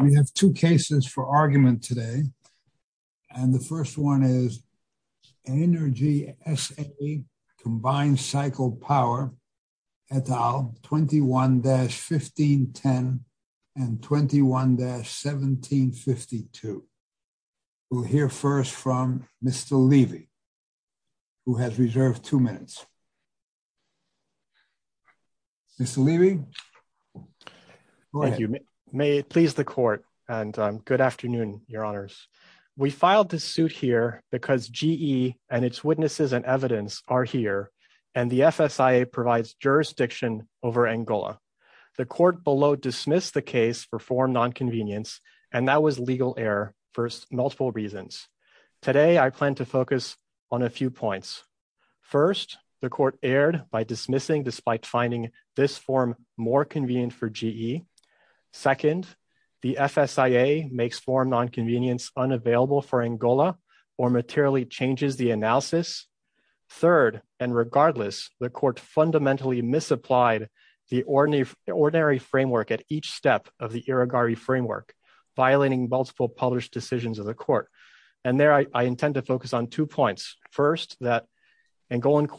We have two cases for argument today, and the first one is Energy S.A. Combined Cycle Power et al., 21-1510 and 21-1752. We'll hear first from Mr. Levy, who has reserved two questions. Mr. Levy? Thank you. May it please the Court, and good afternoon, Your Honors. We filed this suit here because GE and its witnesses and evidence are here, and the FSIA provides jurisdiction over Angola. The Court below dismissed the case for form nonconvenience, and that was legal error for multiple reasons. Today, I plan to focus on a few points. First, the more convenient for GE. Second, the FSIA makes form nonconvenience unavailable for Angola or materially changes the analysis. Third, and regardless, the Court fundamentally misapplied the ordinary framework at each step of the Irigaray framework, violating multiple published decisions of the Court. And there, I intend to focus on two points. First, that Angolan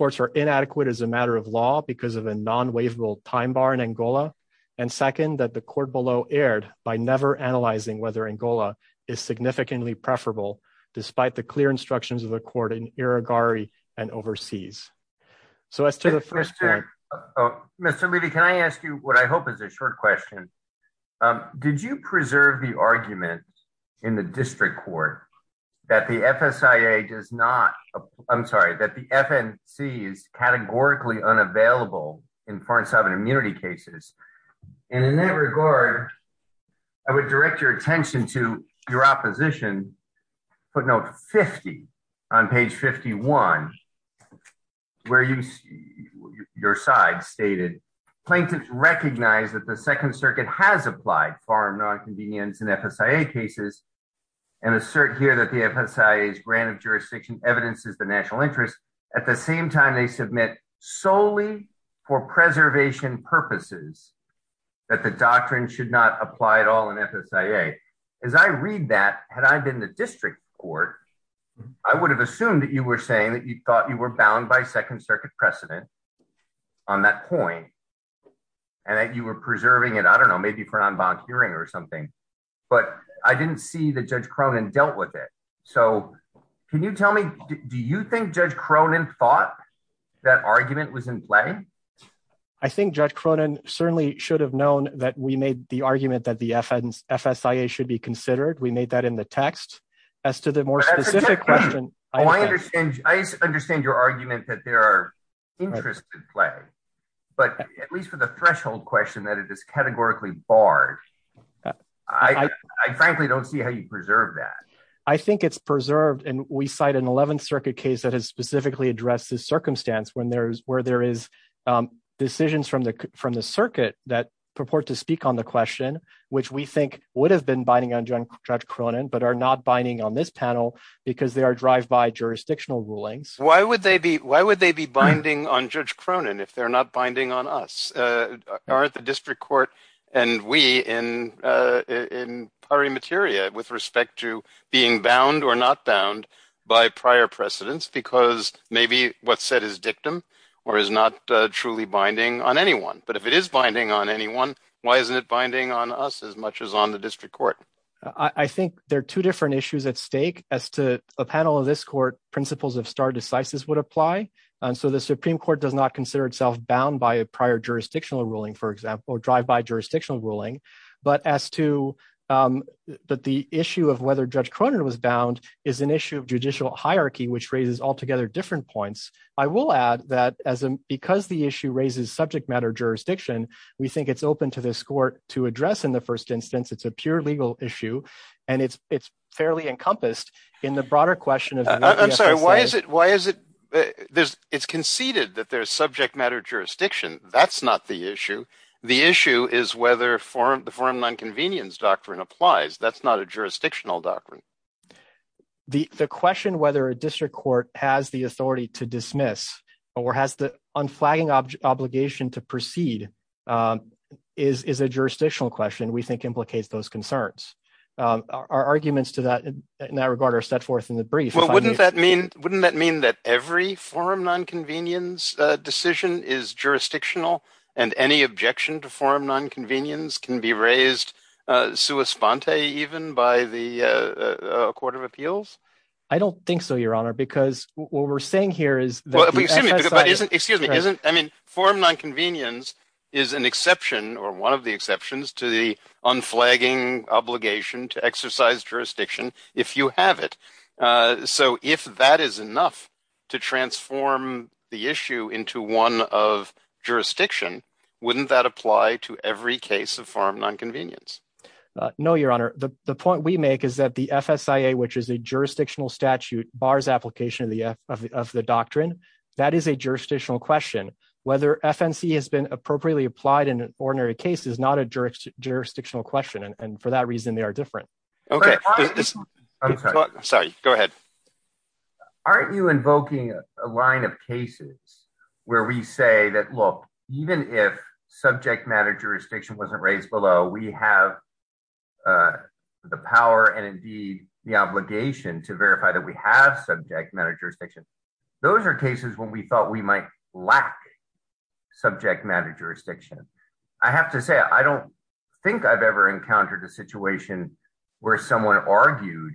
and second, that the Court below erred by never analyzing whether Angola is significantly preferable, despite the clear instructions of the Court in Irigaray and overseas. Mr. Levy, can I ask you what I hope is a short question? Did you preserve the argument in the district court that the FSIA does not, I'm sorry, that the FNC is categorically unavailable in foreign sovereign immunity cases? And in that regard, I would direct your attention to your opposition footnote 50 on page 51, where your side stated, plaintiffs recognize that the Second Circuit has applied form nonconvenience in FSIA cases and assert here that the FSIA's jurisdiction evidences the national interest. At the same time, they submit solely for preservation purposes that the doctrine should not apply at all in FSIA. As I read that, had I been in the district court, I would have assumed that you were saying that you thought you were bound by Second Circuit precedent on that point and that you were preserving it, I don't know, maybe for Can you tell me, do you think Judge Cronin thought that argument was in play? I think Judge Cronin certainly should have known that we made the argument that the FSIA should be considered. We made that in the text. As to the more specific question, I understand your argument that there are interests in play, but at least for the threshold question that it is categorically barred. I frankly don't see how you preserve that. I think it's preserved, and we cite an 11th Circuit case that has specifically addressed this circumstance where there is decisions from the circuit that purport to speak on the question, which we think would have been binding on Judge Cronin, but are not binding on this panel because they are drive-by jurisdictional rulings. Why would they be binding on Judge Cronin if they're not binding on us? Aren't the district court and we in pari materia with respect to being bound or not bound by prior precedents because maybe what's said is dictum or is not truly binding on anyone, but if it is binding on anyone, why isn't it binding on us as much as on the district court? I think there are two different issues at stake as to a panel of this court principles of star decisis would apply, and so the Supreme Court does not consider itself bound by a prior jurisdictional ruling, for but the issue of whether Judge Cronin was bound is an issue of judicial hierarchy, which raises altogether different points. I will add that because the issue raises subject matter jurisdiction, we think it's open to this court to address in the first instance, it's a pure legal issue, and it's fairly encompassed in the broader question of- I'm sorry, it's conceded that there's subject matter jurisdiction. That's not the issue. The issue is whether the forum non-convenience doctrine applies. That's not a jurisdictional doctrine. The question whether a district court has the authority to dismiss or has the unflagging obligation to proceed is a jurisdictional question we think implicates those concerns. Our arguments to that in that regard are set forth in the brief. Well, wouldn't that mean that every forum non-convenience decision is jurisdictional and any objection to forum non-convenience can be raised sua sponte even by the Court of Appeals? I don't think so, Your Honor, because what we're saying here is- Excuse me. I mean, forum non-convenience is an exception or one of the exceptions to the unflagging obligation to exercise jurisdiction if you have it. So if that is enough to transform the issue into one of jurisdiction, wouldn't that apply to every case of forum non-convenience? No, Your Honor. The point we make is that the FSIA, which is a jurisdictional statute, bars application of the doctrine. That is a jurisdictional question. Whether FNC has been appropriately applied in an ordinary case is not a jurisdictional question, and for that reason, they are different. Okay. I'm sorry. Go ahead. Aren't you invoking a line of cases where we say that, look, even if subject matter jurisdiction wasn't raised below, we have the power and indeed the obligation to verify that we have subject matter jurisdiction. Those are cases when we thought we might lack subject matter jurisdiction. I have to say, I don't think I've ever encountered a situation where someone argued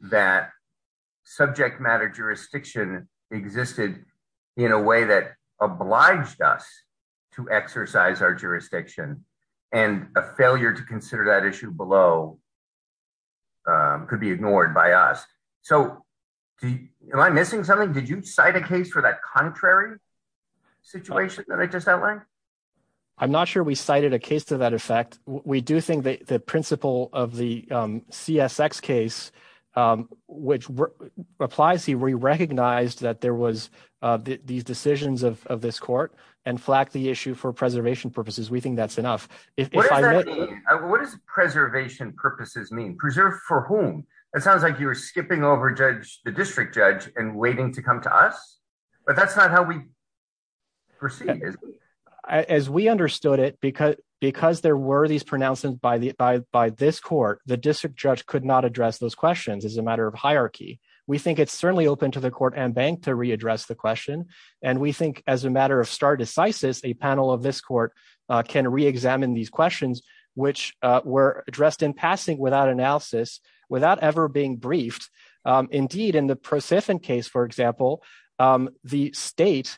that subject matter jurisdiction existed in a way that obliged us to exercise our jurisdiction, and a failure to consider that issue below could be ignored by us. So am I missing something? Did you cite a case for that contrary situation that I just outlined? I'm not sure we cited a case to that effect. We do think the principle of the CSX case, which applies here, we recognized that there was these decisions of this court and flagged the issue for preservation purposes. We think that's enough. What does preservation purposes mean? Preserve for whom? It sounds like you're skipping over the district judge and waiting to come to us, but that's not how we proceed. As we understood it, because there were these pronouncements by this court, the district judge could not address those questions as a matter of hierarchy. We think it's certainly open to the court and bank to readdress the question, and we think as a matter of stare decisis, a panel of this court can reexamine these questions, which were addressed in passing without analysis, without ever being briefed. Indeed, in the ProSyphon case, for example, the state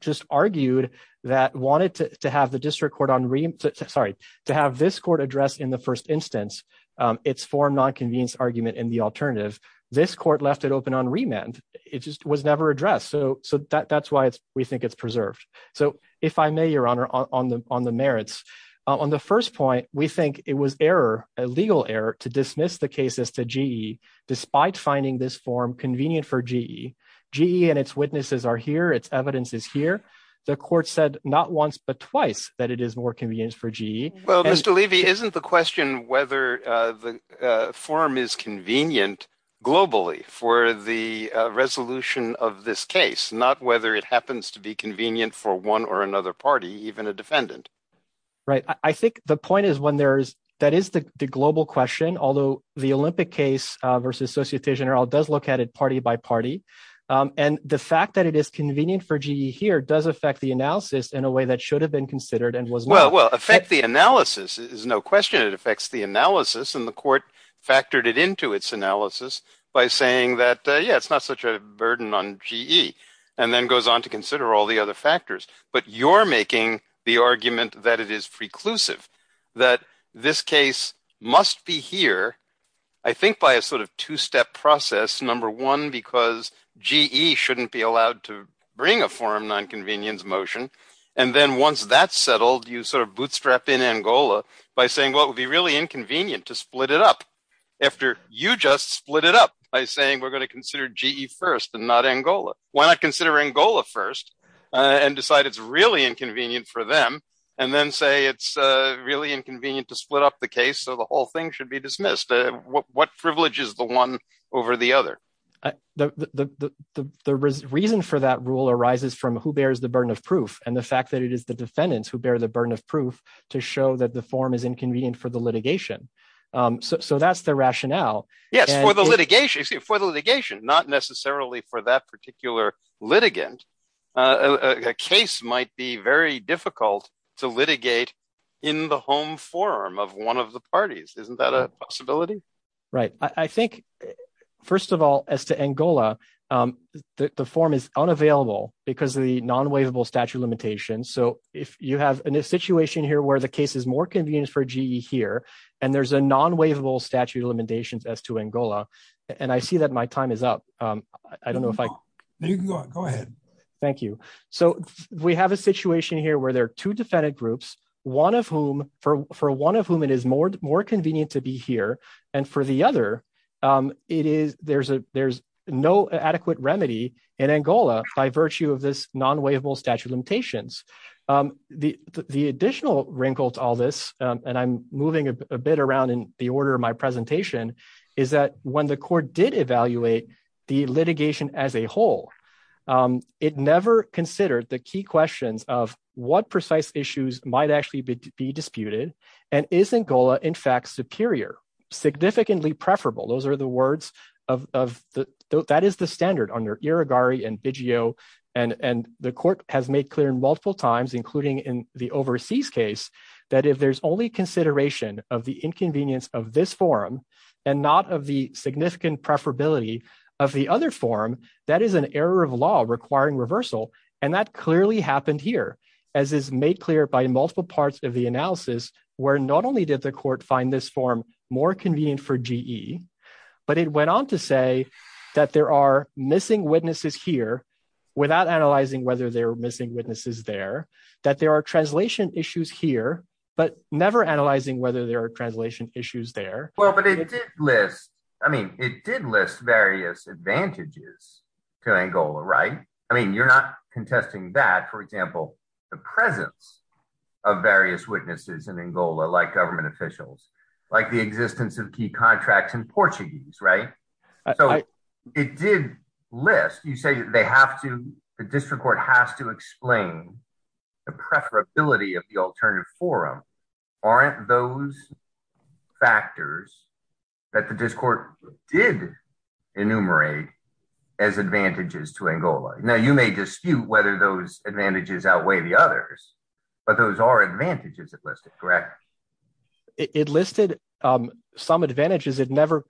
just argued that wanted to have this court address in the first instance its form nonconvenience argument in the alternative. This court left it open on remand. It just was never addressed. So that's why we think it's preserved. So if I may, Your Honor, on the merits. On the first point, we think it was a legal error to dismiss the case as to GE, despite finding this form convenient for GE. GE and its witnesses are here. Its evidence is here. The court said not once but twice that it is more convenient for GE. Well, Mr. Levy, isn't the question whether the form is convenient globally for the resolution of this case, not whether it happens to be convenient for one or another party, even a defendant? Right. I think the point is when there's that is the global question, although the Olympic case versus Société Générale does look at it party by party. And the fact that it is convenient for GE here does affect the analysis in a way that should have been considered and was well. Well, affect the analysis is no question. It affects the analysis. And the court factored it into its analysis by saying that, yeah, it's not such a burden on GE and then goes on to consider all the other factors. But you're making the argument that it is preclusive, that this case must be here, I think, by a sort of two step process. Number one, because GE shouldn't be allowed to bring a forum nonconvenience motion. And then once that's settled, you sort of bootstrap in Angola by saying, well, it would be really inconvenient to split it up after you just split it up by saying we're going to consider GE first and not Angola. Why not consider Angola first and decide it's really inconvenient for them and then say it's really inconvenient to the whole thing should be dismissed? What privilege is the one over the other? The reason for that rule arises from who bears the burden of proof and the fact that it is the defendants who bear the burden of proof to show that the form is inconvenient for the litigation. So that's the rationale. Yes, for the litigation, for the litigation, not necessarily for that particular litigant. A case might be very difficult to litigate in the home forum of one of the parties. Isn't that a possibility? Right. I think, first of all, as to Angola, the form is unavailable because of the non-waivable statute of limitations. So if you have a situation here where the case is more convenient for GE here and there's a non-waivable statute of limitations as to Angola, and I see that my time is up. I don't know if I can go ahead. Thank you. So we have a situation here where there are two defendant groups, one of whom, for one of whom it is more convenient to be here. And for the other, there's no adequate remedy in Angola by virtue of this non-waivable statute of limitations. The additional wrinkle to all this, and I'm moving a bit around in the order of my presentation, is that when the court did evaluate the litigation as a whole, it never considered the key questions of what precise issues might actually be disputed, and isn't Angola, in fact, superior? Significantly preferable. Those are the words of the, that is the standard under Irigaray and Biggio, and the court has made clear multiple times, including in the overseas case, that if there's only consideration of the inconvenience of this forum and not of the And that clearly happened here, as is made clear by multiple parts of the analysis, where not only did the court find this form more convenient for GE, but it went on to say that there are missing witnesses here, without analyzing whether there are missing witnesses there, that there are translation issues here, but never analyzing whether there are translation issues there. Well, but it did list, I mean, it did list various advantages to Angola, right? I mean, you're contesting that, for example, the presence of various witnesses in Angola, like government officials, like the existence of key contracts in Portuguese, right? So it did list, you say they have to, the district court has to explain the preferability of the alternative forum. Aren't those factors that the district court did enumerate as advantages to Angola? Now, you may dispute whether those advantages outweigh the others, but those are advantages it listed, correct? It listed some advantages it never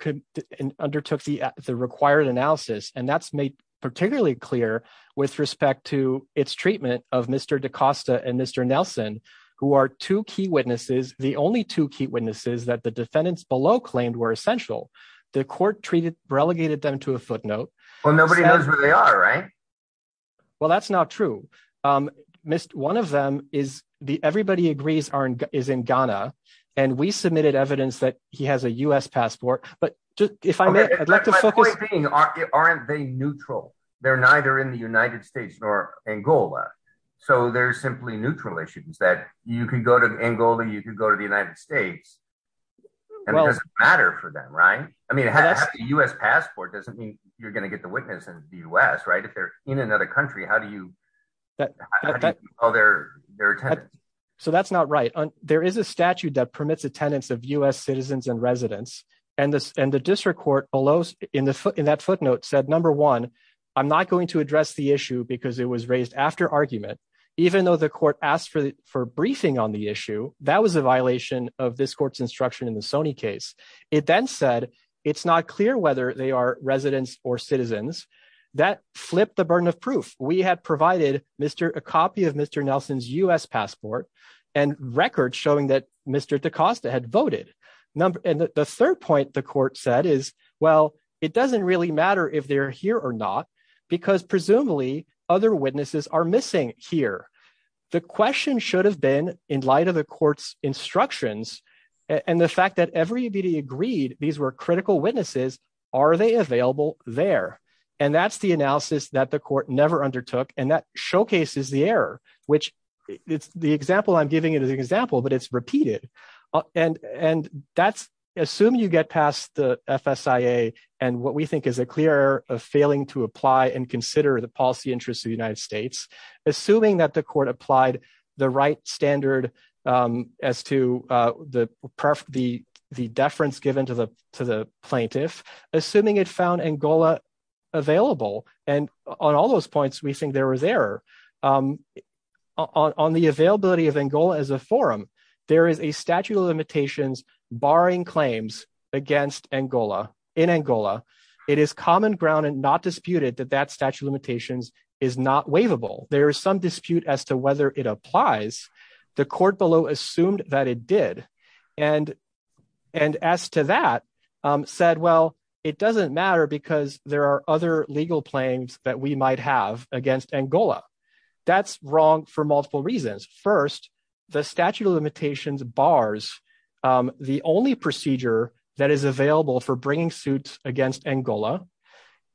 undertook the required analysis, and that's made particularly clear with respect to its treatment of Mr. da Costa and Mr. Nelson, who are two key witnesses, the only two key witnesses that the defendants below claimed were essential. The court treated, relegated them to a footnote. Well, nobody knows where they are, right? Well, that's not true. One of them is the, everybody agrees is in Ghana, and we submitted evidence that he has a U.S. passport, but if I may, I'd like to focus. Aren't they neutral? They're neither in the United States nor Angola, so they're simply neutral issues that you can go to Angola, you can go to the United States, and it doesn't matter for them, right? I mean, a U.S. passport doesn't mean you're going to get the witness in the U.S., right? If they're in another country, how do you call their attendance? So, that's not right. There is a statute that permits attendance of U.S. citizens and residents, and the district court below in that footnote said, number one, I'm not going to address the issue because it was raised after argument. Even though the court asked for briefing on the issue, that was a violation of this court's instruction in the Sony case. It then said, it's not clear whether they are residents or citizens. That flipped the burden of proof. We had provided a copy of Mr. Nelson's U.S. passport and records showing that Mr. DaCosta had voted. And the third point the court said is, well, it doesn't really matter if they're here or not because presumably other witnesses are missing here. The question should have been in light of the court's instructions and the fact that everybody agreed these were critical witnesses, are they available there? And that's the analysis that the court never undertook, and that showcases the error, which it's the example but it's repeated. Assuming you get past the FSIA and what we think is a clear error of failing to apply and consider the policy interests of the United States, assuming that the court applied the right standard as to the deference given to the plaintiff, assuming it found Angola available, and on all those points we think there was error. On the availability of Angola as a forum, there is a statute of limitations barring claims against Angola. In Angola, it is common ground and not disputed that that statute of limitations is not waivable. There is some dispute as to whether it applies. The court below assumed that it did. And as to that, said, well, it doesn't matter because there are other legal claims that we might have against Angola. That's wrong for multiple reasons. First, the statute of limitations bars the only procedure that is available for bringing suits against Angola.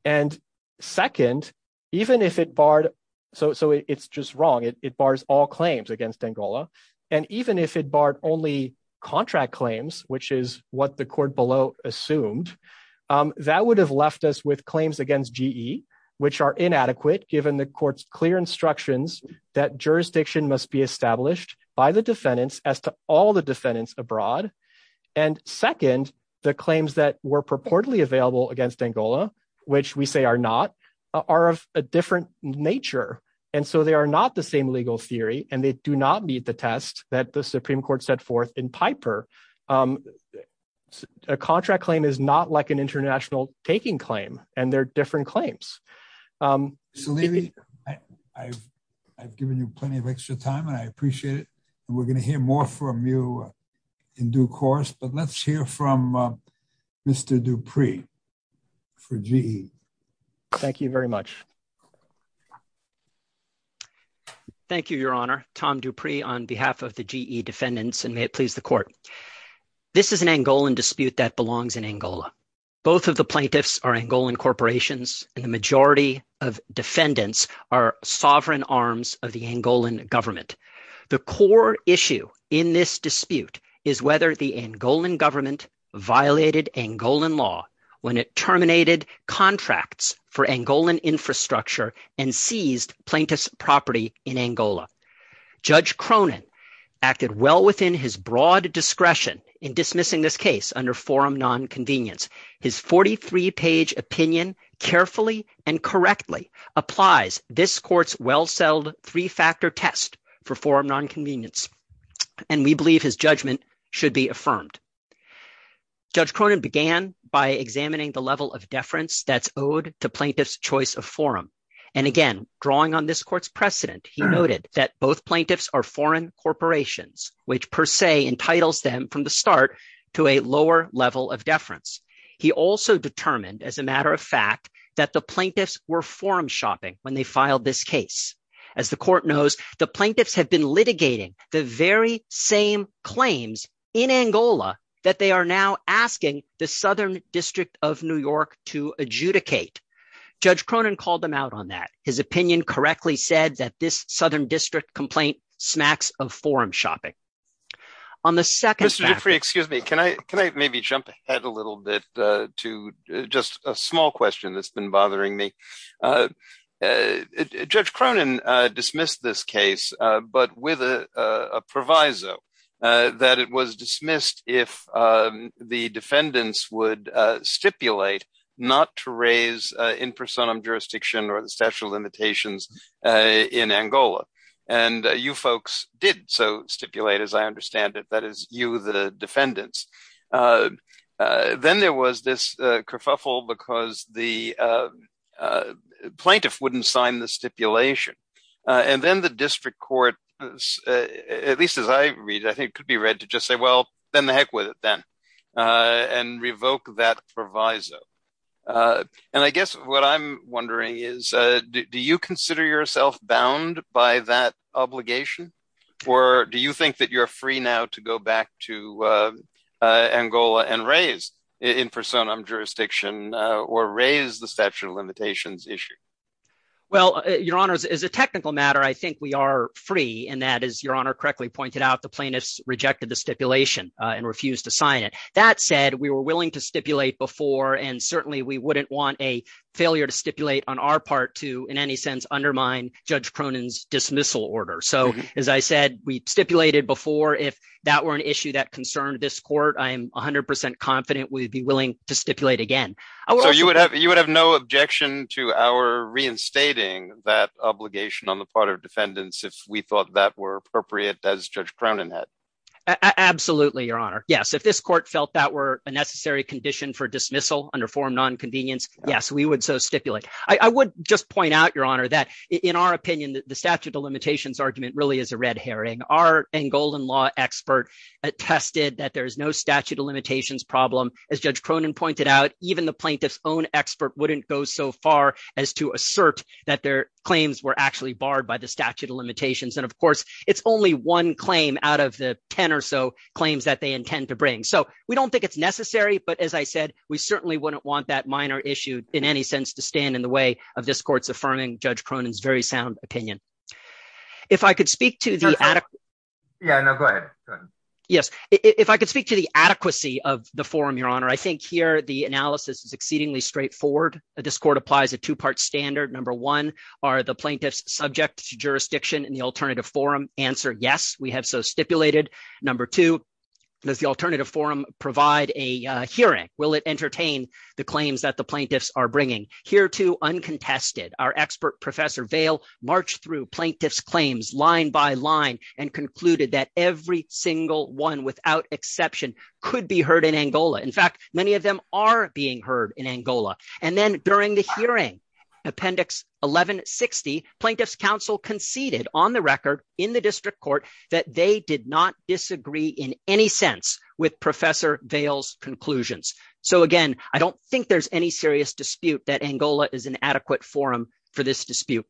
And second, even if it barred, so it's just wrong, it bars all claims against Angola. And even if it barred only contract claims, which is what the that would have left us with claims against GE, which are inadequate, given the court's clear instructions that jurisdiction must be established by the defendants as to all the defendants abroad. And second, the claims that were purportedly available against Angola, which we say are not, are of a different nature. And so they are not the same legal theory and they do not meet the test that the Supreme Court set forth in Piper. A contract claim is not like an international taking claim and they're different claims. I've given you plenty of extra time and I appreciate it. And we're going to hear more from you in due course, but let's hear from Mr. Dupree for GE. Thank you very much. Thank you, Your Honor. Tom Dupree on behalf of the GE defendants and may it please the court. This is an Angolan dispute that belongs in Angola. Both of the plaintiffs are Angolan corporations and the majority of defendants are sovereign arms of the Angolan government. The core issue in this dispute is whether the Angolan government violated Angolan law when it and seized plaintiff's property in Angola. Judge Cronin acted well within his broad discretion in dismissing this case under forum nonconvenience. His 43-page opinion carefully and correctly applies this court's well-settled three-factor test for forum nonconvenience. And we believe his judgment should be affirmed. Judge Cronin began by examining the level of And again, drawing on this court's precedent, he noted that both plaintiffs are foreign corporations, which per se entitles them from the start to a lower level of deference. He also determined as a matter of fact that the plaintiffs were forum shopping when they filed this case. As the court knows, the plaintiffs have been litigating the very same claims in Angola that they are now asking the Southern District of New York to adjudicate. Judge Cronin called him out on that. His opinion correctly said that this Southern District complaint smacks of forum shopping. On the second- Mr. Giffrey, excuse me. Can I maybe jump ahead a little bit to just a small question that's been bothering me? Judge Cronin dismissed this case, but with a proviso that it was dismissed if the defendants would stipulate not to raise in personam jurisdiction or the statute of limitations in Angola. And you folks did so stipulate, as I understand it. That is you, the defendants. Then there was this kerfuffle because the plaintiff wouldn't sign the stipulation. And then the district court, at least as I read, I think it could be read to just say, well, then the heck with it then, and revoke that proviso. And I guess what I'm wondering is, do you consider yourself bound by that obligation? Or do you think that you're free now to go back to Angola and raise in personam jurisdiction or raise the statute of limitations issue? Well, your honors, as a technical matter, I think we are free. And that is your honor correctly pointed out, the plaintiffs rejected the stipulation and refused to sign it. That said, we were willing to stipulate before, and certainly we wouldn't want a failure to stipulate on our part to, in any sense, undermine Judge Cronin's dismissal order. So as I said, we stipulated before, if that were an issue that concerned this court, I'm 100% confident we'd be willing to stipulate again. So you would have no objection to our reinstating that obligation on the part of defendants if we thought that were appropriate as Judge Cronin had? Absolutely, your honor. Yes, if this court felt that were a necessary condition for dismissal under form non-convenience, yes, we would so stipulate. I would just point out, your honor, that in our opinion, the statute of limitations argument really is a red herring. Our Angolan law expert attested that there is no statute of limitations problem. As Judge Cronin pointed out, even the plaintiff's own expert wouldn't go so far as to assert that their claims were actually barred by the statute of limitations. And of course, it's only one claim out of the 10 or so claims that they intend to bring. So we don't think it's necessary, but as I said, we certainly wouldn't want that minor issue, in any sense, to stand in the way of this court's affirming Judge Cronin's very sound opinion. If I could speak to the adequacy of the forum, your honor, I think here the analysis is exceedingly straightforward. This court applies a two-part standard. Number one, are the plaintiffs subject to jurisdiction in the alternative forum? Answer, yes, we have so stipulated. Number two, does the alternative forum provide a hearing? Will it entertain the claims that the plaintiffs are bringing? Here, too, uncontested, our expert Professor Vail marched through plaintiff's claims line by line and concluded that every single one, without exception, could be heard in Angola. In fact, many of them are being heard in Angola. And then during the hearing, Appendix 1160, plaintiff's counsel conceded on the record in the district court that they did not disagree in any sense with Professor Vail's conclusions. So again, I don't think there's any serious dispute that Angola is an adequate forum for this dispute.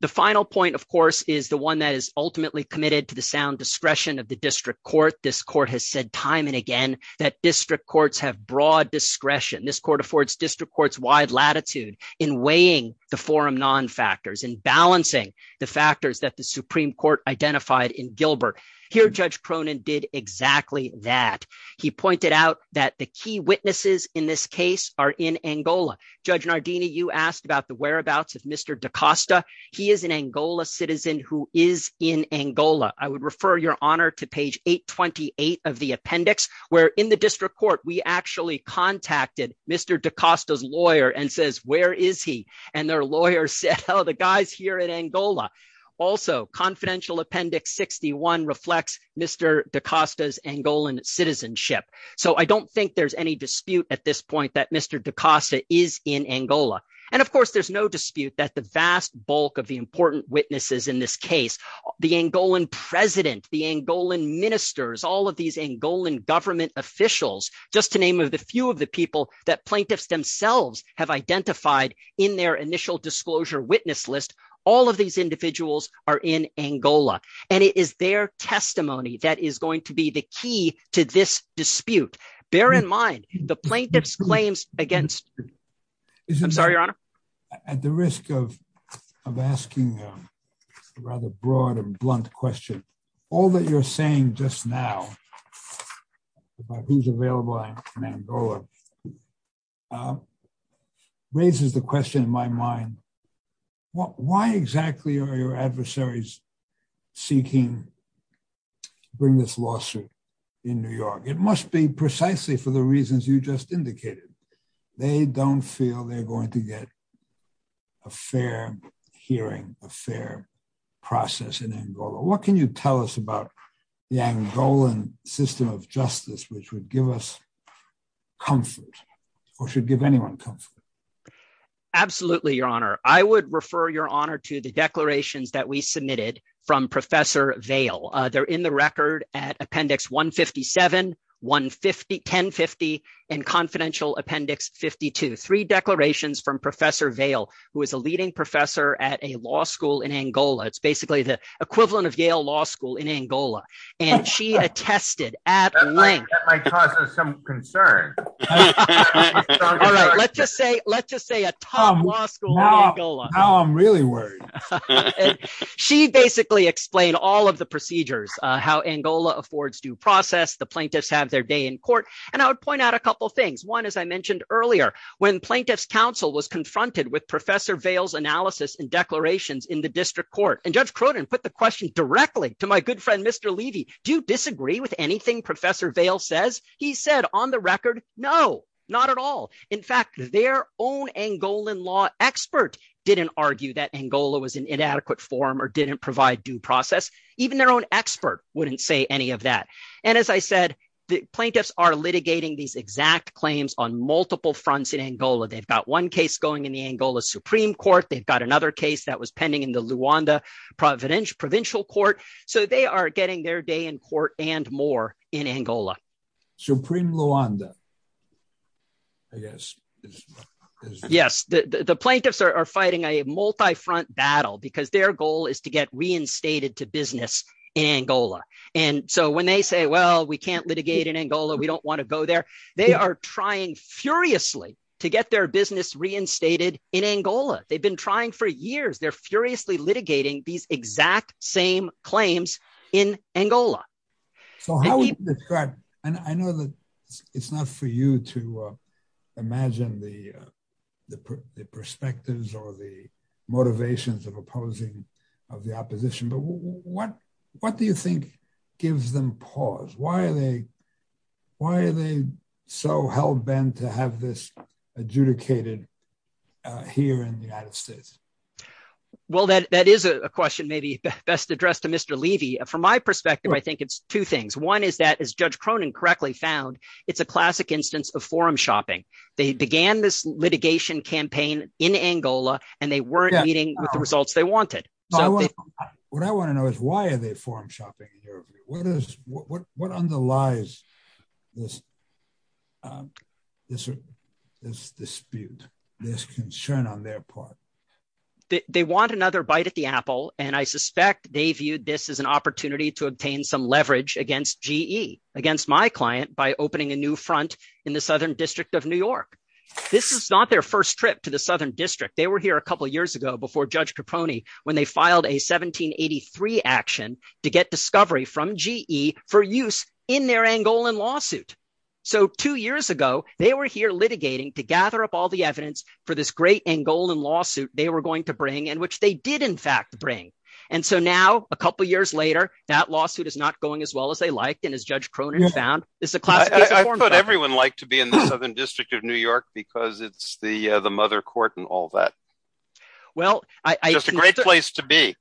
The final point, of course, is the one that is ultimately committed to the sound discretion of the district court. This court has said time and again that district courts have broad discretion. This court affords district courts wide latitude in weighing the forum non-factors and balancing the factors that the Supreme Court identified in Gilbert. Here, Judge Cronin did exactly that. He pointed out that the key witnesses in this case are in Angola. Judge Nardini, you asked about the whereabouts of Mr. DaCosta. He is an Angola citizen who is in Angola. I would refer your honor to page 828 of the appendix, where in the district court, we actually contacted Mr. DaCosta's lawyer and says, where is he? And their lawyer said, oh, the guy's here in Angola. Also, Confidential Appendix 61 reflects Mr. DaCosta's Angolan citizenship. So I don't think there's any dispute at this point that Mr. DaCosta is in Angola. And of course, there's no dispute that the vast bulk of the witnesses in this case, the Angolan president, the Angolan ministers, all of these Angolan government officials, just to name a few of the people that plaintiffs themselves have identified in their initial disclosure witness list, all of these individuals are in Angola. And it is their testimony that is going to be the key to this dispute. Bear in mind, the plaintiff's claims against... I'm sorry, your honor? At the risk of asking a rather broad and blunt question, all that you're saying just now, about who's available in Angola, raises the question in my mind, why exactly are your adversaries seeking to bring this lawsuit in New York? It must be precisely for the reasons you just indicated. They don't feel they're going to get a fair hearing, a fair process in Angola. What can you tell us about the Angolan system of justice, which would give us comfort, or should give anyone comfort? Absolutely, your honor. I would refer your honor to the declarations that we submitted from Professor Vail. They're in the record at Appendix 157, 1050, and Confidential Appendix 52. Three declarations from Professor Vail, who is a leading professor at a law school in Angola. It's basically the equivalent of Yale Law School in Angola. And she attested at length... That might cause us some concern. All right, let's just say a top law school in Angola. Now I'm really worried. She basically explained all of the procedures, how Angola affords due process, the plaintiffs have their day in court. And I would point out a couple of things. One, as I mentioned earlier, when Plaintiff's Council was confronted with Professor Vail's analysis and declarations in the district court, and Judge Croton put the question directly to my good friend, Mr. Levy, do you disagree with anything Professor Vail says? He said, on the record, no, not at all. In fact, their own Angolan law expert didn't argue that Angola was in inadequate form or didn't provide due process. Even their own expert wouldn't say any of that. And as I said, the plaintiffs are litigating these exact claims on multiple fronts in Angola. They've got one case going in the Angola Supreme Court. They've got another case that was pending in the Luanda Provincial Court. So they are getting their day in court and more in Angola. Supreme Luanda, I guess. Yes, the plaintiffs are fighting a multi-front battle because their goal is to get reinstated to business in Angola. And so when they say, well, we can't litigate in Angola, we don't want to go there. They are trying furiously to get their business reinstated in Angola. They've been trying for years. They're furiously litigating these exact same claims in Angola. So how would you describe, and I know that it's not for you to imagine the perspectives or the motivations of opposing of the opposition, but what do you think gives them pause? Why are they so hell-bent to have this adjudicated here in the United States? Well, that is a question maybe best addressed to Mr. Levy. From my perspective, I think it's two things. One is that, as Judge Cronin correctly found, it's a classic instance of forum shopping. They began this litigation campaign in Angola and they weren't meeting with the results they wanted. What I want to know is why are they forum shopping in Angola? This dispute, this concern on their part. They want another bite at the apple, and I suspect they viewed this as an opportunity to obtain some leverage against GE, against my client by opening a new front in the Southern District of New York. This is not their first trip to the Southern District. They were here a couple of years ago before Judge Cronin when they filed a 1783 action to get discovery from GE for use in their Angolan lawsuit. Two years ago, they were here litigating to gather up all the evidence for this great Angolan lawsuit they were going to bring, and which they did in fact bring. Now, a couple of years later, that lawsuit is not going as well as they liked, and as Judge Cronin found, it's a classic case of forum shopping. I thought everyone liked to be in the Southern District of New York because it's the mother court and all that. It's a great place to be.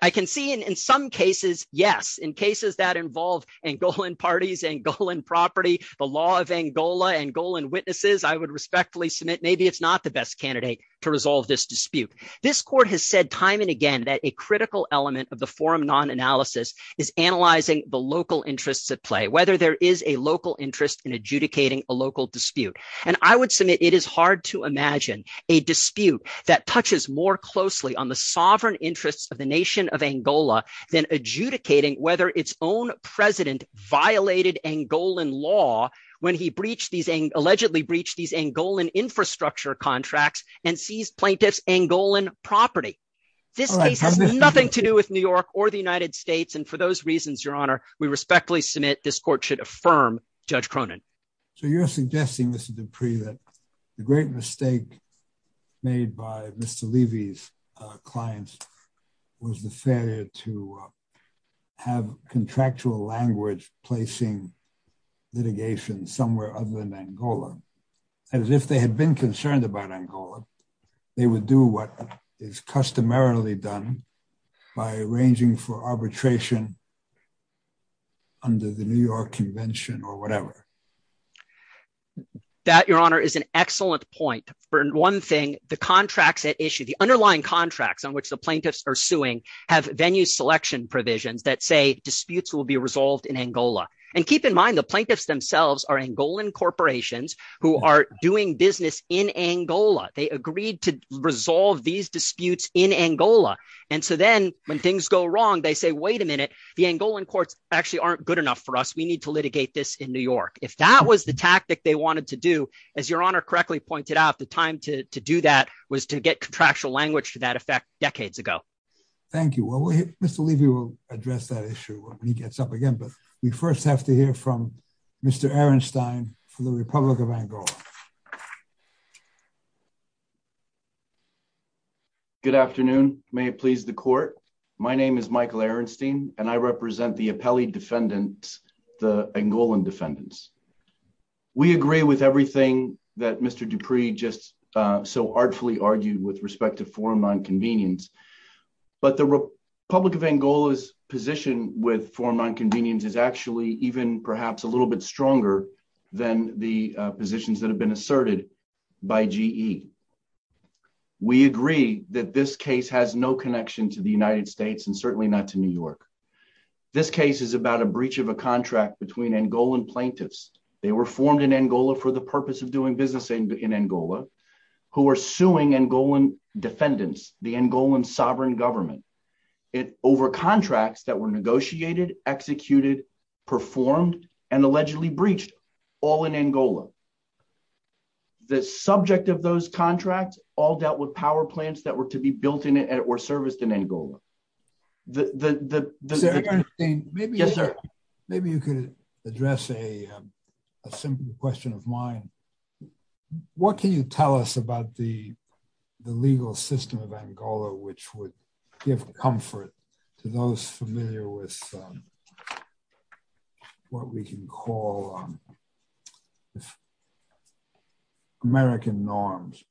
I can see in some cases, yes, in cases that involve Angolan parties, Angolan property, the law of Angola, Angolan witnesses, I would respectfully submit maybe it's not the best candidate to resolve this dispute. This court has said time and again that a critical element of the forum non-analysis is analyzing the local interests at play, whether there is a local interest in adjudicating a local dispute. I would submit it is hard to imagine a dispute that touches more closely on the sovereign interests of the nation of Angola than adjudicating whether its own president violated Angolan law when he allegedly breached these Angolan infrastructure contracts and seized plaintiffs' Angolan property. This case has nothing to do with New York or the United States, and for those reasons, Your Honor, we respectfully submit this court should affirm Judge Cronin. So you're suggesting, Mr. Dupree, that the great mistake made by Mr. Levy's clients was the failure to have contractual language placing litigation somewhere other than Angola. As if they had been concerned about Angola, they would do what is customarily done by arranging for arbitration under the New York Convention or whatever. That, Your Honor, is an excellent point. For one thing, the contracts at issue, the underlying contracts on which the plaintiffs are suing have venue selection provisions that say disputes will be resolved in Angola. And keep in mind, the plaintiffs themselves are Angolan corporations who are doing business in Angola. They agreed to resolve these disputes in Angola. And so then when things go wrong, they say, wait a minute, the Angolan courts actually aren't good enough for us. We need to litigate this in New York. If that was the tactic they wanted to do, as Your Honor correctly pointed out, the time to do that was to get contractual language to that effect decades ago. Thank you. Mr. Levy will address that issue when he gets up again, but we first have to hear from Mr. Ehrenstein from the Republic of Angola. Good afternoon. May it please the court. My name is Michael Ehrenstein, and I represent the appellee defendants, the Angolan defendants. We agree with everything that Mr. Dupree just so artfully argued with respect to foreign nonconvenience. But the Republic of Angola's position with foreign nonconvenience is actually even perhaps a little bit stronger than the positions that have been asserted by GE. We agree that this case has no connection to the United States and certainly not to New York. This case is about a breach of a contract between Angolan plaintiffs. They were formed in Angola for the purpose of doing business in Angola, who are suing Angolan defendants, the Angolan sovereign government. It over contracts that negotiated, executed, performed, and allegedly breached all in Angola. The subject of those contracts all dealt with power plants that were to be built in it or serviced in Angola. Maybe you could address a simple question of mine. What can you tell us about the legal system of what we can call American norms?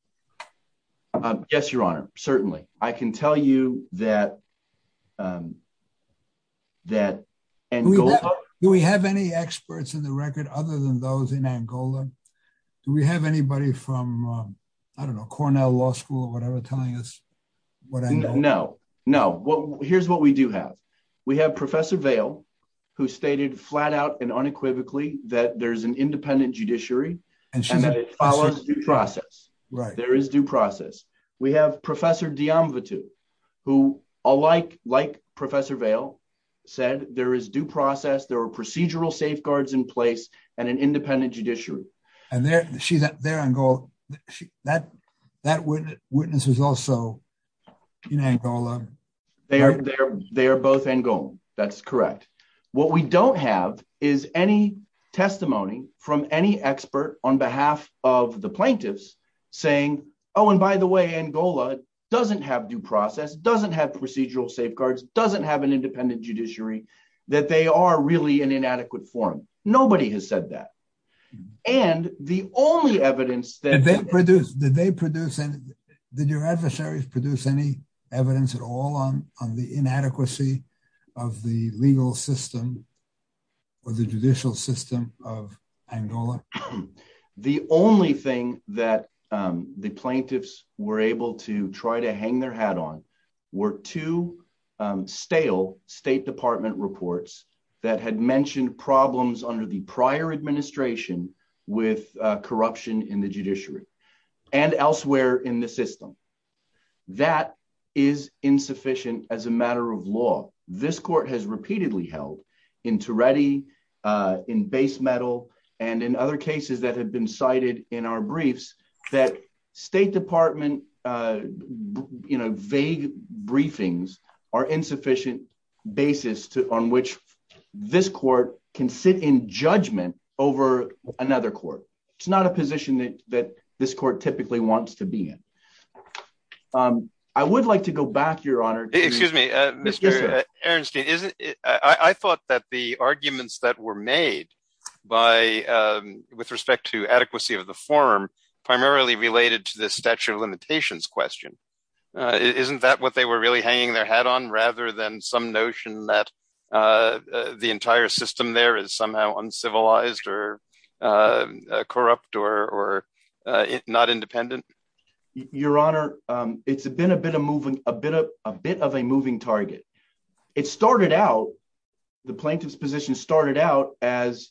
Yes, Your Honor, certainly. I can tell you that we have any experts in the record other than those in Angola? Do we have anybody from, I don't know, Cornell Law School or whatever telling us what I know? No, no. Here's what we have. We have Professor Vail, who stated flat out and unequivocally that there's an independent judiciary and that it follows due process. There is due process. We have Professor Diamvatou, who, like Professor Vail, said there is due process, there are procedural safeguards in place, and an independent judiciary. That witness is also in Angola. They are both in Angola. That's correct. What we don't have is any testimony from any expert on behalf of the plaintiffs saying, oh, and by the way, Angola doesn't have due process, doesn't have procedural safeguards, doesn't have an independent judiciary, that they are really in inadequate form. Nobody has said that. Did your adversaries produce any evidence at all on the inadequacy of the legal system or the judicial system of Angola? The only thing that the plaintiffs were able to try to hang their hat on were two stale State Department reports that had mentioned problems under the prior administration with corruption in the judiciary and elsewhere in the system. That is insufficient as a matter of law. This court has repeatedly held in Teredi, in Base Metal, and in other cases that have been cited in our briefs that State Department vague briefings are insufficient basis on which this another court. It's not a position that this court typically wants to be in. I would like to go back, Your Honor. Excuse me, Mr. Ehrenstein. I thought that the arguments that were made with respect to adequacy of the form primarily related to the statute of limitations question. Isn't that what they were really hanging their hat on rather than some notion that the entire system there is somehow uncivilized or corrupt or not independent? Your Honor, it's been a bit of a moving target. It started out, the plaintiff's position started out as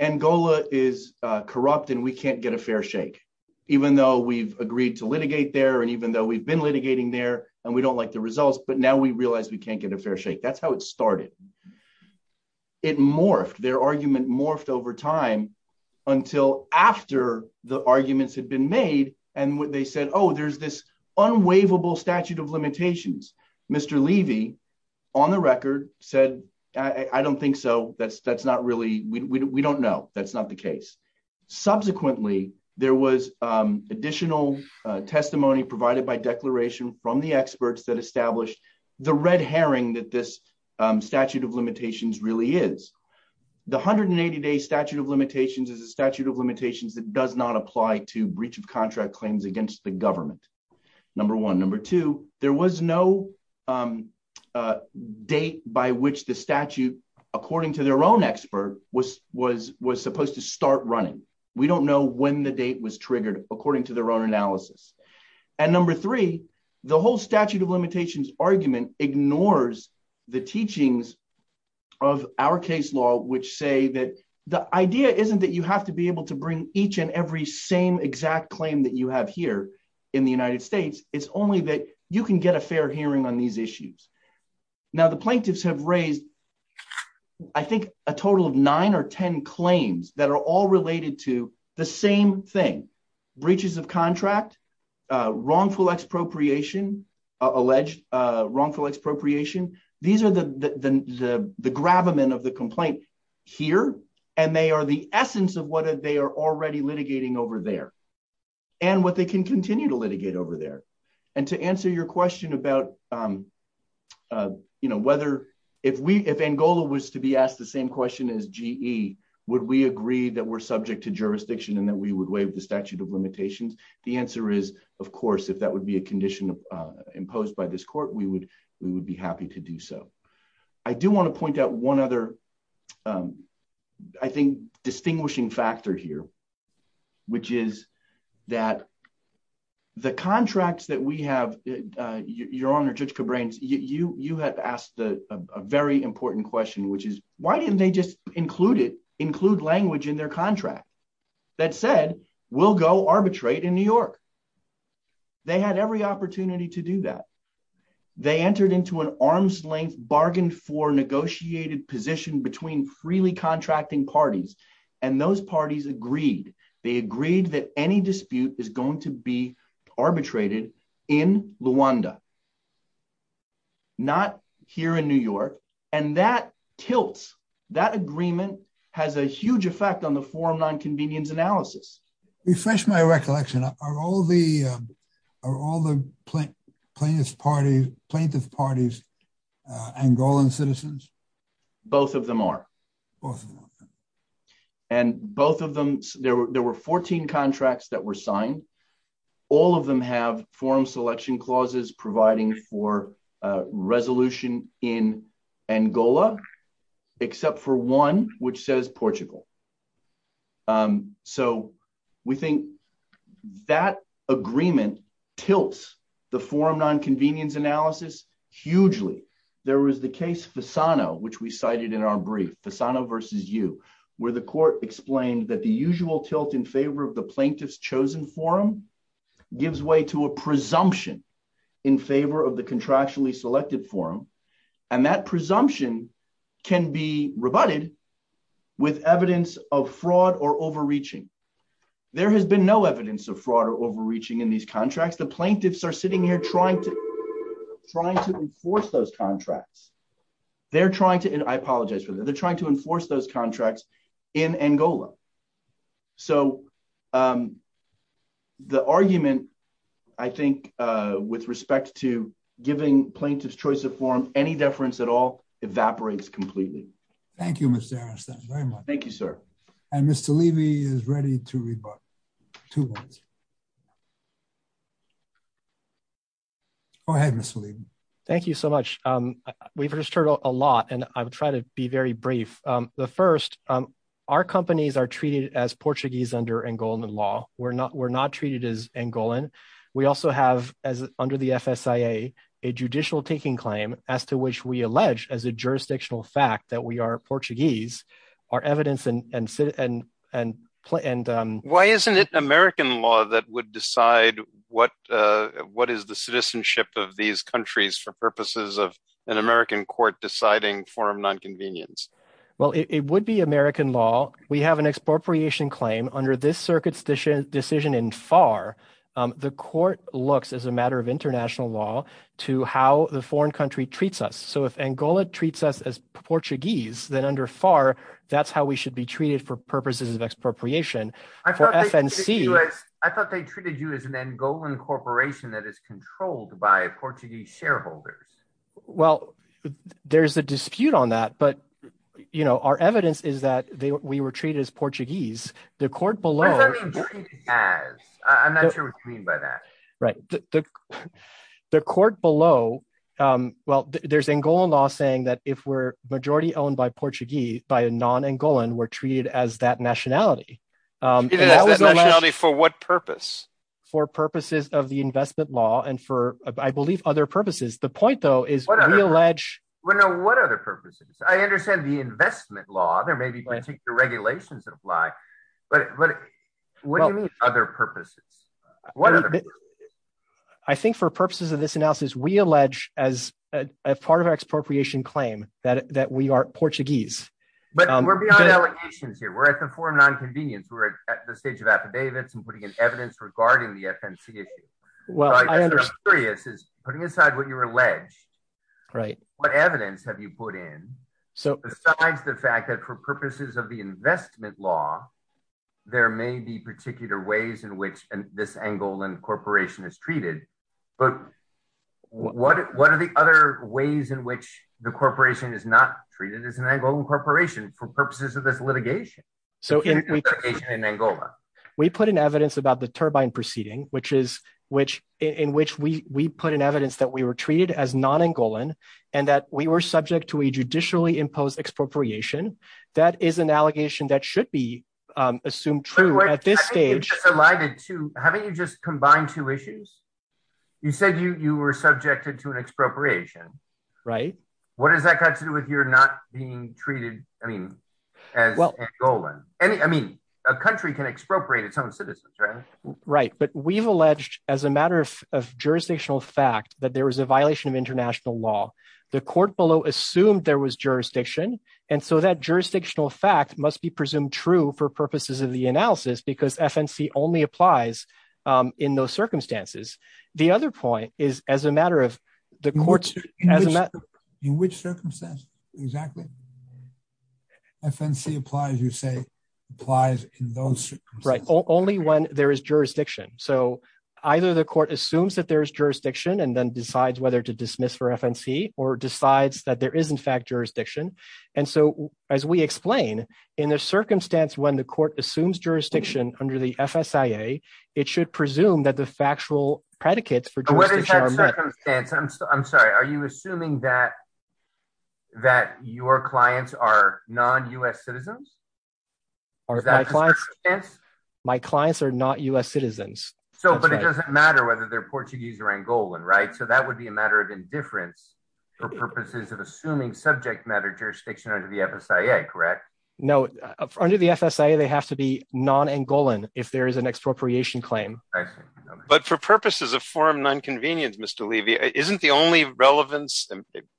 Angola is corrupt and we can't get a fair shake even though we've agreed to litigate there and even though we've been litigating there and we don't like the results, but now we realize we it morphed. Their argument morphed over time until after the arguments had been made and they said, oh, there's this unwaivable statute of limitations. Mr. Levy on the record said, I don't think so. That's not really, we don't know. That's not the case. Subsequently, there was additional testimony provided by declaration from the experts that established the red herring that this statute of limitations really is. The 180-day statute of limitations is a statute of limitations that does not apply to breach of contract claims against the government, number one. Number two, there was no date by which the statute, according to their own expert, was supposed to start running. We don't know when the date was triggered according to their analysis. Number three, the whole statute of limitations argument ignores the teachings of our case law, which say that the idea isn't that you have to be able to bring each and every same exact claim that you have here in the United States. It's only that you can get a fair hearing on these issues. Now, the plaintiffs have raised, I think, a total of nine or 10 claims that are related to the same thing, breaches of contract, wrongful expropriation, alleged wrongful expropriation. These are the gravamen of the complaint here. They are the essence of what they are already litigating over there and what they can continue to litigate over there. To answer your question about whether if Angola was to be asked the same question as GE, would we agree that we're subject to jurisdiction and that we would waive the statute of limitations, the answer is, of course, if that would be a condition imposed by this court, we would be happy to do so. I do want to point out one other, I think, distinguishing factor here, which is that the contracts that we have, Your Honor, Judge Cabranes, you have asked a very important question, which is, didn't they just include language in their contract that said, we'll go arbitrate in New York? They had every opportunity to do that. They entered into an arm's length bargain for negotiated position between freely contracting parties, and those parties agreed. They agreed that any dispute is going to be arbitrated in Luanda, not here in New York, and that tilts. That agreement has a huge effect on the forum non-convenience analysis. Refresh my recollection. Are all the plaintiff parties Angolan citizens? Both of them are. And both of them, there were 14 contracts that were signed. All of them have forum selection clauses providing for resolution in Angola, except for one which says Portugal. So we think that agreement tilts the forum non-convenience analysis hugely. There was the case Fasano, which we cited in our brief, Fasano versus you, where the court explained that the in favor of the contractually selected forum, and that presumption can be rebutted with evidence of fraud or overreaching. There has been no evidence of fraud or overreaching in these contracts. The plaintiffs are sitting here trying to enforce those contracts. They're trying to, and I apologize for that, they're trying to enforce those contracts in Angola. So the argument, I think, with respect to giving plaintiffs choice of forum, any deference at all evaporates completely. Thank you, Mr. Ehrenstein, very much. Thank you, sir. And Mr. Levy is ready to rebut, two words. Go ahead, Mr. Levy. Thank you so much. We've heard a lot, and I will try to be very brief. The first, our companies are treated as Portuguese under Angolan law. We're not treated as Angolan. We also have, under the FSIA, a judicial taking claim as to which we allege, as a jurisdictional fact, that we are Portuguese. Our evidence and... Why isn't it American law that would decide what is the citizenship of these countries for purposes of an American court deciding forum non-convenience? Well, it would be American law. We have an expropriation claim under this circuit decision in FAR. The court looks, as a matter of international law, to how the foreign country treats us. So if Angola treats us as Portuguese, then under FAR, that's how we should be treated for purposes of expropriation. For FNC... I thought they treated you as an Angolan corporation that is controlled by Portuguese shareholders. Well, there's a dispute on that, but our evidence is that we were treated as Portuguese. The court below... What does that mean, treated as? I'm not sure what you mean by that. Right. The court below, well, there's Angolan law saying that if we're majority owned by Portuguese, by a non-Angolan, we're treated as that nationality. Treated as that nationality for what purpose? For purposes of the investment law and for, I believe, other purposes. The point, though, is we allege... What other purposes? I understand the investment law. There may be particular regulations that apply, but what do you mean other purposes? What other purposes? I think for purposes of this analysis, we allege, as a part of our expropriation claim, that we are Portuguese. We're beyond allegations here. We're at the forum non-convenience. We're at the stage and putting in evidence regarding the FNC issue. Well, I understand. What I'm curious is, putting aside what you allege, what evidence have you put in besides the fact that for purposes of the investment law, there may be particular ways in which this Angolan corporation is treated, but what are the other ways in which the corporation is not treated as an Angolan corporation for purposes of this litigation? So, we put in evidence about the Turbine proceeding, in which we put in evidence that we were treated as non-Angolan and that we were subject to a judicially imposed expropriation. That is an allegation that should be assumed true at this stage. Haven't you just combined two issues? You said you were subjected to an expropriation. Right. What has that got to do with your not being treated as Angolan? A country can expropriate its own citizens, right? Right. But we've alleged as a matter of jurisdictional fact that there was a violation of international law. The court below assumed there was jurisdiction. And so, that jurisdictional fact must be presumed true for purposes of the analysis, because FNC only applies in those circumstances. The other point is, as a matter of the court's- In which circumstance, exactly? FNC applies, you say, applies in those circumstances. Right. Only when there is jurisdiction. So, either the court assumes that there is jurisdiction and then decides whether to dismiss for FNC or decides that there is, in fact, jurisdiction. And so, as we explain, in the circumstance when the court assumes jurisdiction under the FSIA, it should presume that the factual predicates for jurisdiction- I'm sorry. Are you assuming that your clients are non-U.S. citizens? My clients are not U.S. citizens. So, but it doesn't matter whether they're Portuguese or Angolan, right? So, that would be a matter of indifference for purposes of assuming subject matter jurisdiction under the FSIA, correct? No. Under the FSIA, they have to be non-Angolan if there is an expropriation claim. But for purposes of forum non-convenience, Mr. Levy, isn't the only relevance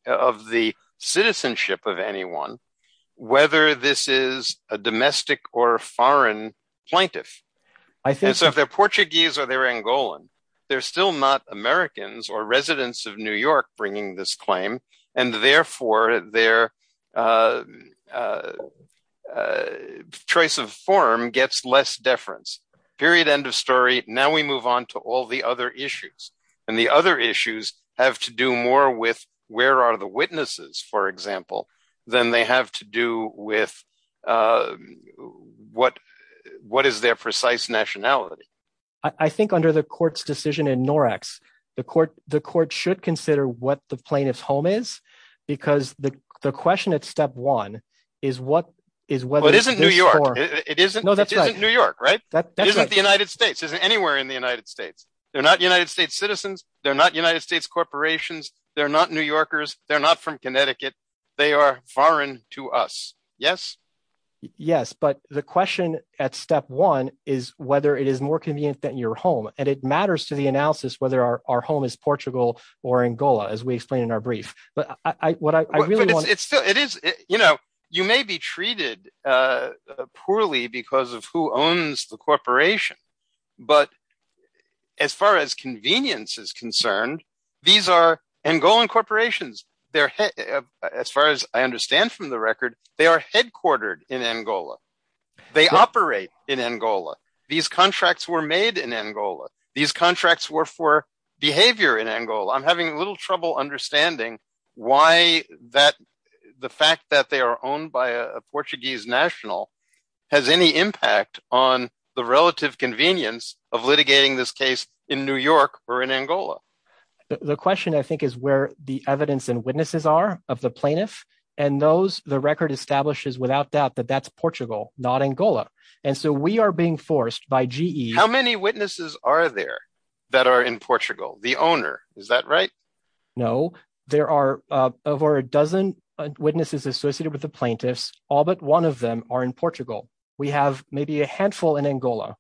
of the citizenship of anyone, whether this is a domestic or foreign plaintiff? And so, if they're Portuguese or they're Angolan, they're still not Americans or residents of New York bringing this claim. And therefore, their choice of forum gets less deference. Period. End of story. Now we move on to all the other issues. And the other issues have to do more with where are the witnesses, for example, than they have to do with what is their precise nationality. I think under the court's decision in NORACS, the court should consider what the plaintiff's home is because the question at step one is what is whether- It isn't New York. It isn't New York, right? That's right. It isn't the United States. It isn't anywhere in the United States. They're not United States citizens. They're not United States corporations. They're not New Yorkers. They're not from Connecticut. They are foreign to us. Yes? Yes, but the question at step one is whether it is more convenient than your home. And it matters to the analysis whether our home is Portugal or Angola, as we explained in our brief. But you may be treated poorly because of who owns the corporation. But as far as convenience is concerned, these are Angolan corporations. As far as I understand from the record, they are headquartered in Angola. They operate in Angola. These contracts were made in Angola. These contracts were for behavior in Angola. I'm having a little trouble understanding why the fact that they are owned by a Portuguese national has any impact on the relative convenience of litigating this case in New York or in Angola. The question, I think, is where the evidence and witnesses are of the plaintiff. And the record establishes without doubt that that's Portugal, not Angola. And so we are being forced by GE- How many witnesses are there that are in Portugal? The owner, is that right? No, there are over a dozen witnesses associated with the plaintiffs. All but one of them are in Portugal. We have maybe a handful in Angola.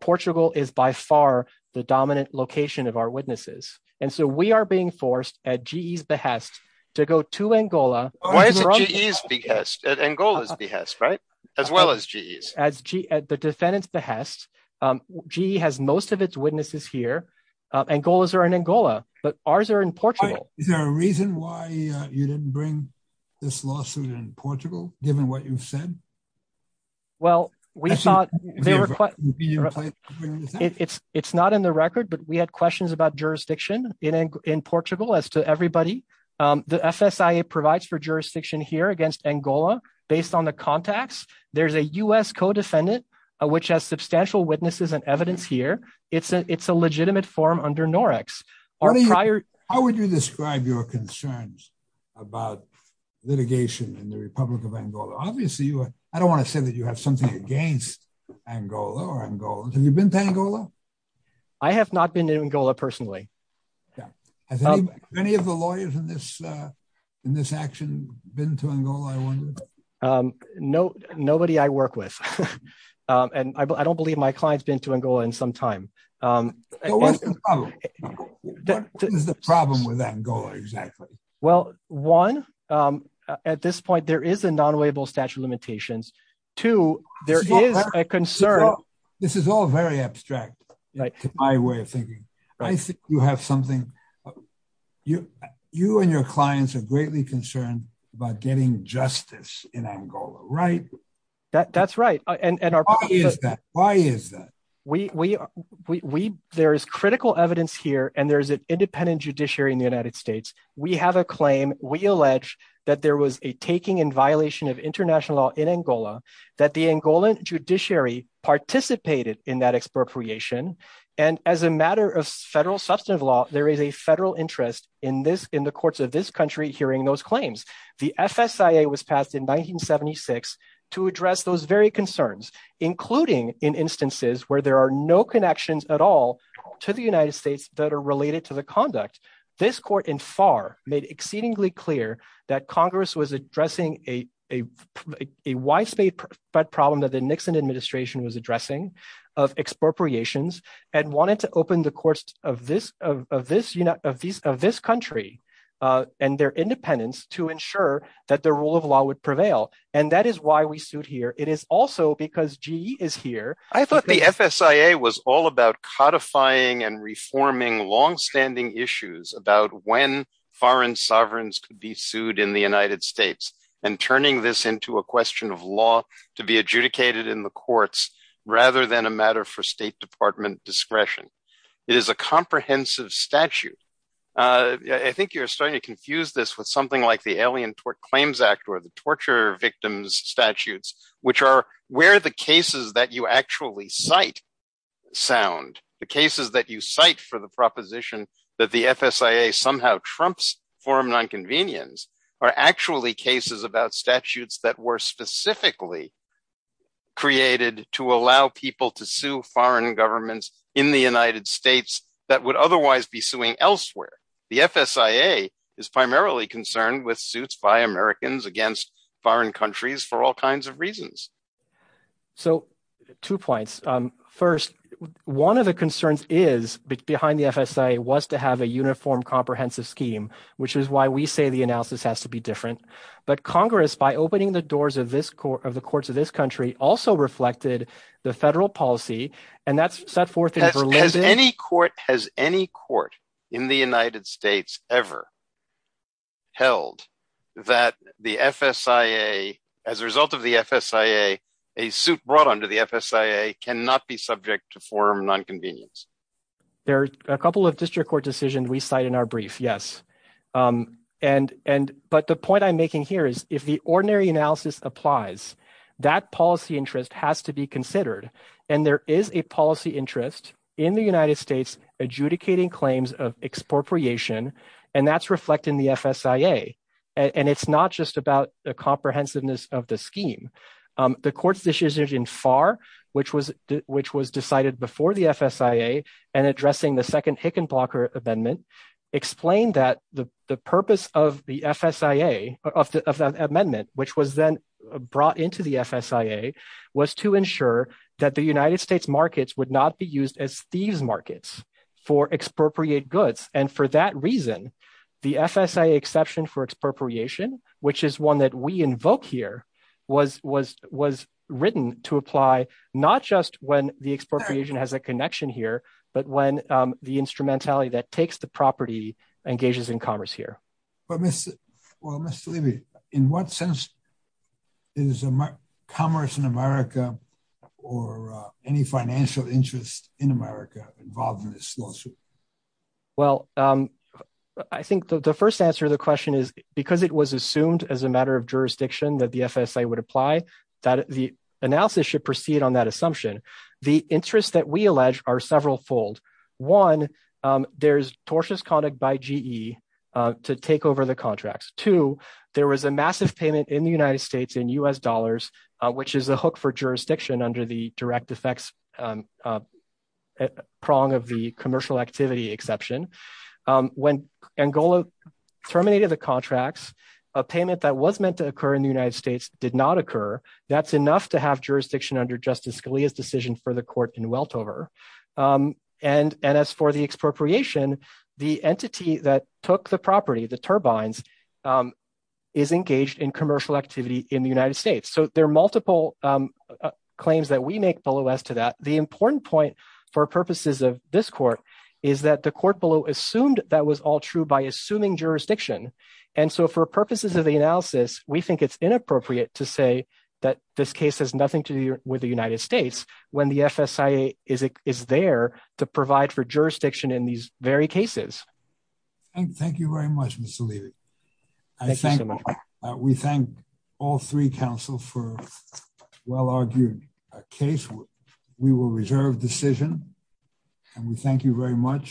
Portugal is by far the dominant location of our witnesses. And so we are being forced at GE's behest to go to Angola- Why is it GE's behest? At Angola's behest, right? As well as GE's. As the defendant's behest. GE has most of its witnesses here. Angola's are in Angola, but ours are in Portugal. Is there a reason why you didn't bring this lawsuit in Portugal, given what you've said? Well, we thought- It's not in the record, but we had questions about jurisdiction in Portugal as to everybody. The FSIA provides for jurisdiction here against Angola based on the contacts. There's a U.S. co-defendant, which has substantial witnesses and evidence here. It's a legitimate form under NOREX. How would you describe your concerns about litigation in the Republic of Angola? Obviously, I don't want to say that you have something against Angola or Angola. Have you been to Angola? I have not been to Angola personally. Have any of the lawyers in this action been to Angola, I wonder? Nobody I work with. And I don't believe my client's been to Angola in some time. What is the problem with Angola, exactly? Well, one, at this point, there is a non-liable statute of limitations. Two, there is a concern- This is all very abstract to my way of thinking. I think you have something. You and your clients are greatly concerned about getting justice in Angola, right? That's right. Why is that? There is critical evidence here, and there is an independent judiciary in the United States. We have a claim. We allege that there was a taking in violation of international law in Angola, that the Angolan judiciary participated in that expropriation. And as a matter of federal substantive law, there is a federal interest in the courts of this country hearing those claims. The FSIA was passed in 1976 to address those very concerns, including in instances where there are no connections at all to the United States that are related to the conduct. This court in FAR made exceedingly clear that Congress was addressing a widespread problem that the Nixon administration was addressing of expropriations and wanted to open the courts of this country and their independence to ensure that the rule of law would prevail. And that is why we sued here. It is also because GE is here. I thought the FSIA was all about codifying and reforming longstanding issues about when foreign sovereigns could be sued in the United States and turning this into a question of law to be adjudicated in the courts rather than a matter for State Department discretion. It is a comprehensive statute. I think you're starting to confuse this with something like the Alien Claims Act or the Torture Victims Statutes, which are where the cases that you actually cite sound. The cases that you cite for the proposition that the FSIA somehow trumps forum nonconvenience are actually cases about statutes that were specifically created to allow people to sue foreign governments in the United States that would otherwise be suing elsewhere. The FSIA is primarily concerned with suits by Americans against foreign countries for all kinds of reasons. So two points. First, one of the concerns is behind the FSIA was to have a uniform comprehensive scheme, which is why we say the analysis has to be different. But Congress, by opening the doors of the courts of this country, also reflected the federal policy. And that's set forth in Berlin. Has any court in the United States ever held that the FSIA, as a result of the FSIA, a suit brought under the FSIA cannot be subject to forum nonconvenience? There are a couple of district court decisions we cite in our brief, yes. But the point I'm making here is if the ordinary analysis applies, that policy interest has to be considered. And there is a policy interest in the United States adjudicating claims of expropriation. And that's reflecting the FSIA. And it's not just about the comprehensiveness of the scheme. The court's decision in FAR, which was decided before the FSIA and addressing the second Hickenlooper amendment, explained that the purpose of the FSIA, of the amendment, which was then brought into the FSIA, was to ensure that the United States markets would not be used as thieves markets for expropriate goods. And for that reason, the FSIA exception for expropriation, which is one that we invoke here, was written to apply not just when the expropriation has a connection here, but when the instrumentality that takes the property engages in commerce here. But Mr. Levy, in what sense is commerce in America or any financial interest in America involved in this lawsuit? Well, I think the first answer to the question is because it was assumed as a matter of jurisdiction that the FSIA would apply, that the analysis should proceed on that assumption. The interests that we allege are several fold. One, there's tortious conduct by GE to take over the contracts. Two, there was a massive payment in the United States in U.S. dollars, which is a hook for jurisdiction under the direct effects prong of the commercial activity exception. When Angola terminated the contracts, a payment that was meant to occur in the United States did not occur. That's enough to have jurisdiction under Justice Scalia's decision for the court in Weltover. And as for the expropriation, the entity that took the property, the turbines, is engaged in commercial activity in the United States. So there are multiple claims that we make below us to that. The important point for purposes of this court is that the court below assumed that was all true by assuming jurisdiction. And so for purposes of the analysis, we think it's inappropriate to say that this case has nothing to do with the United States when the FSIA is there to provide for jurisdiction in these very cases. Thank you very much, Mr. Levy. We thank all three counsel for a well-argued case. We will reserve decision and we thank you very much.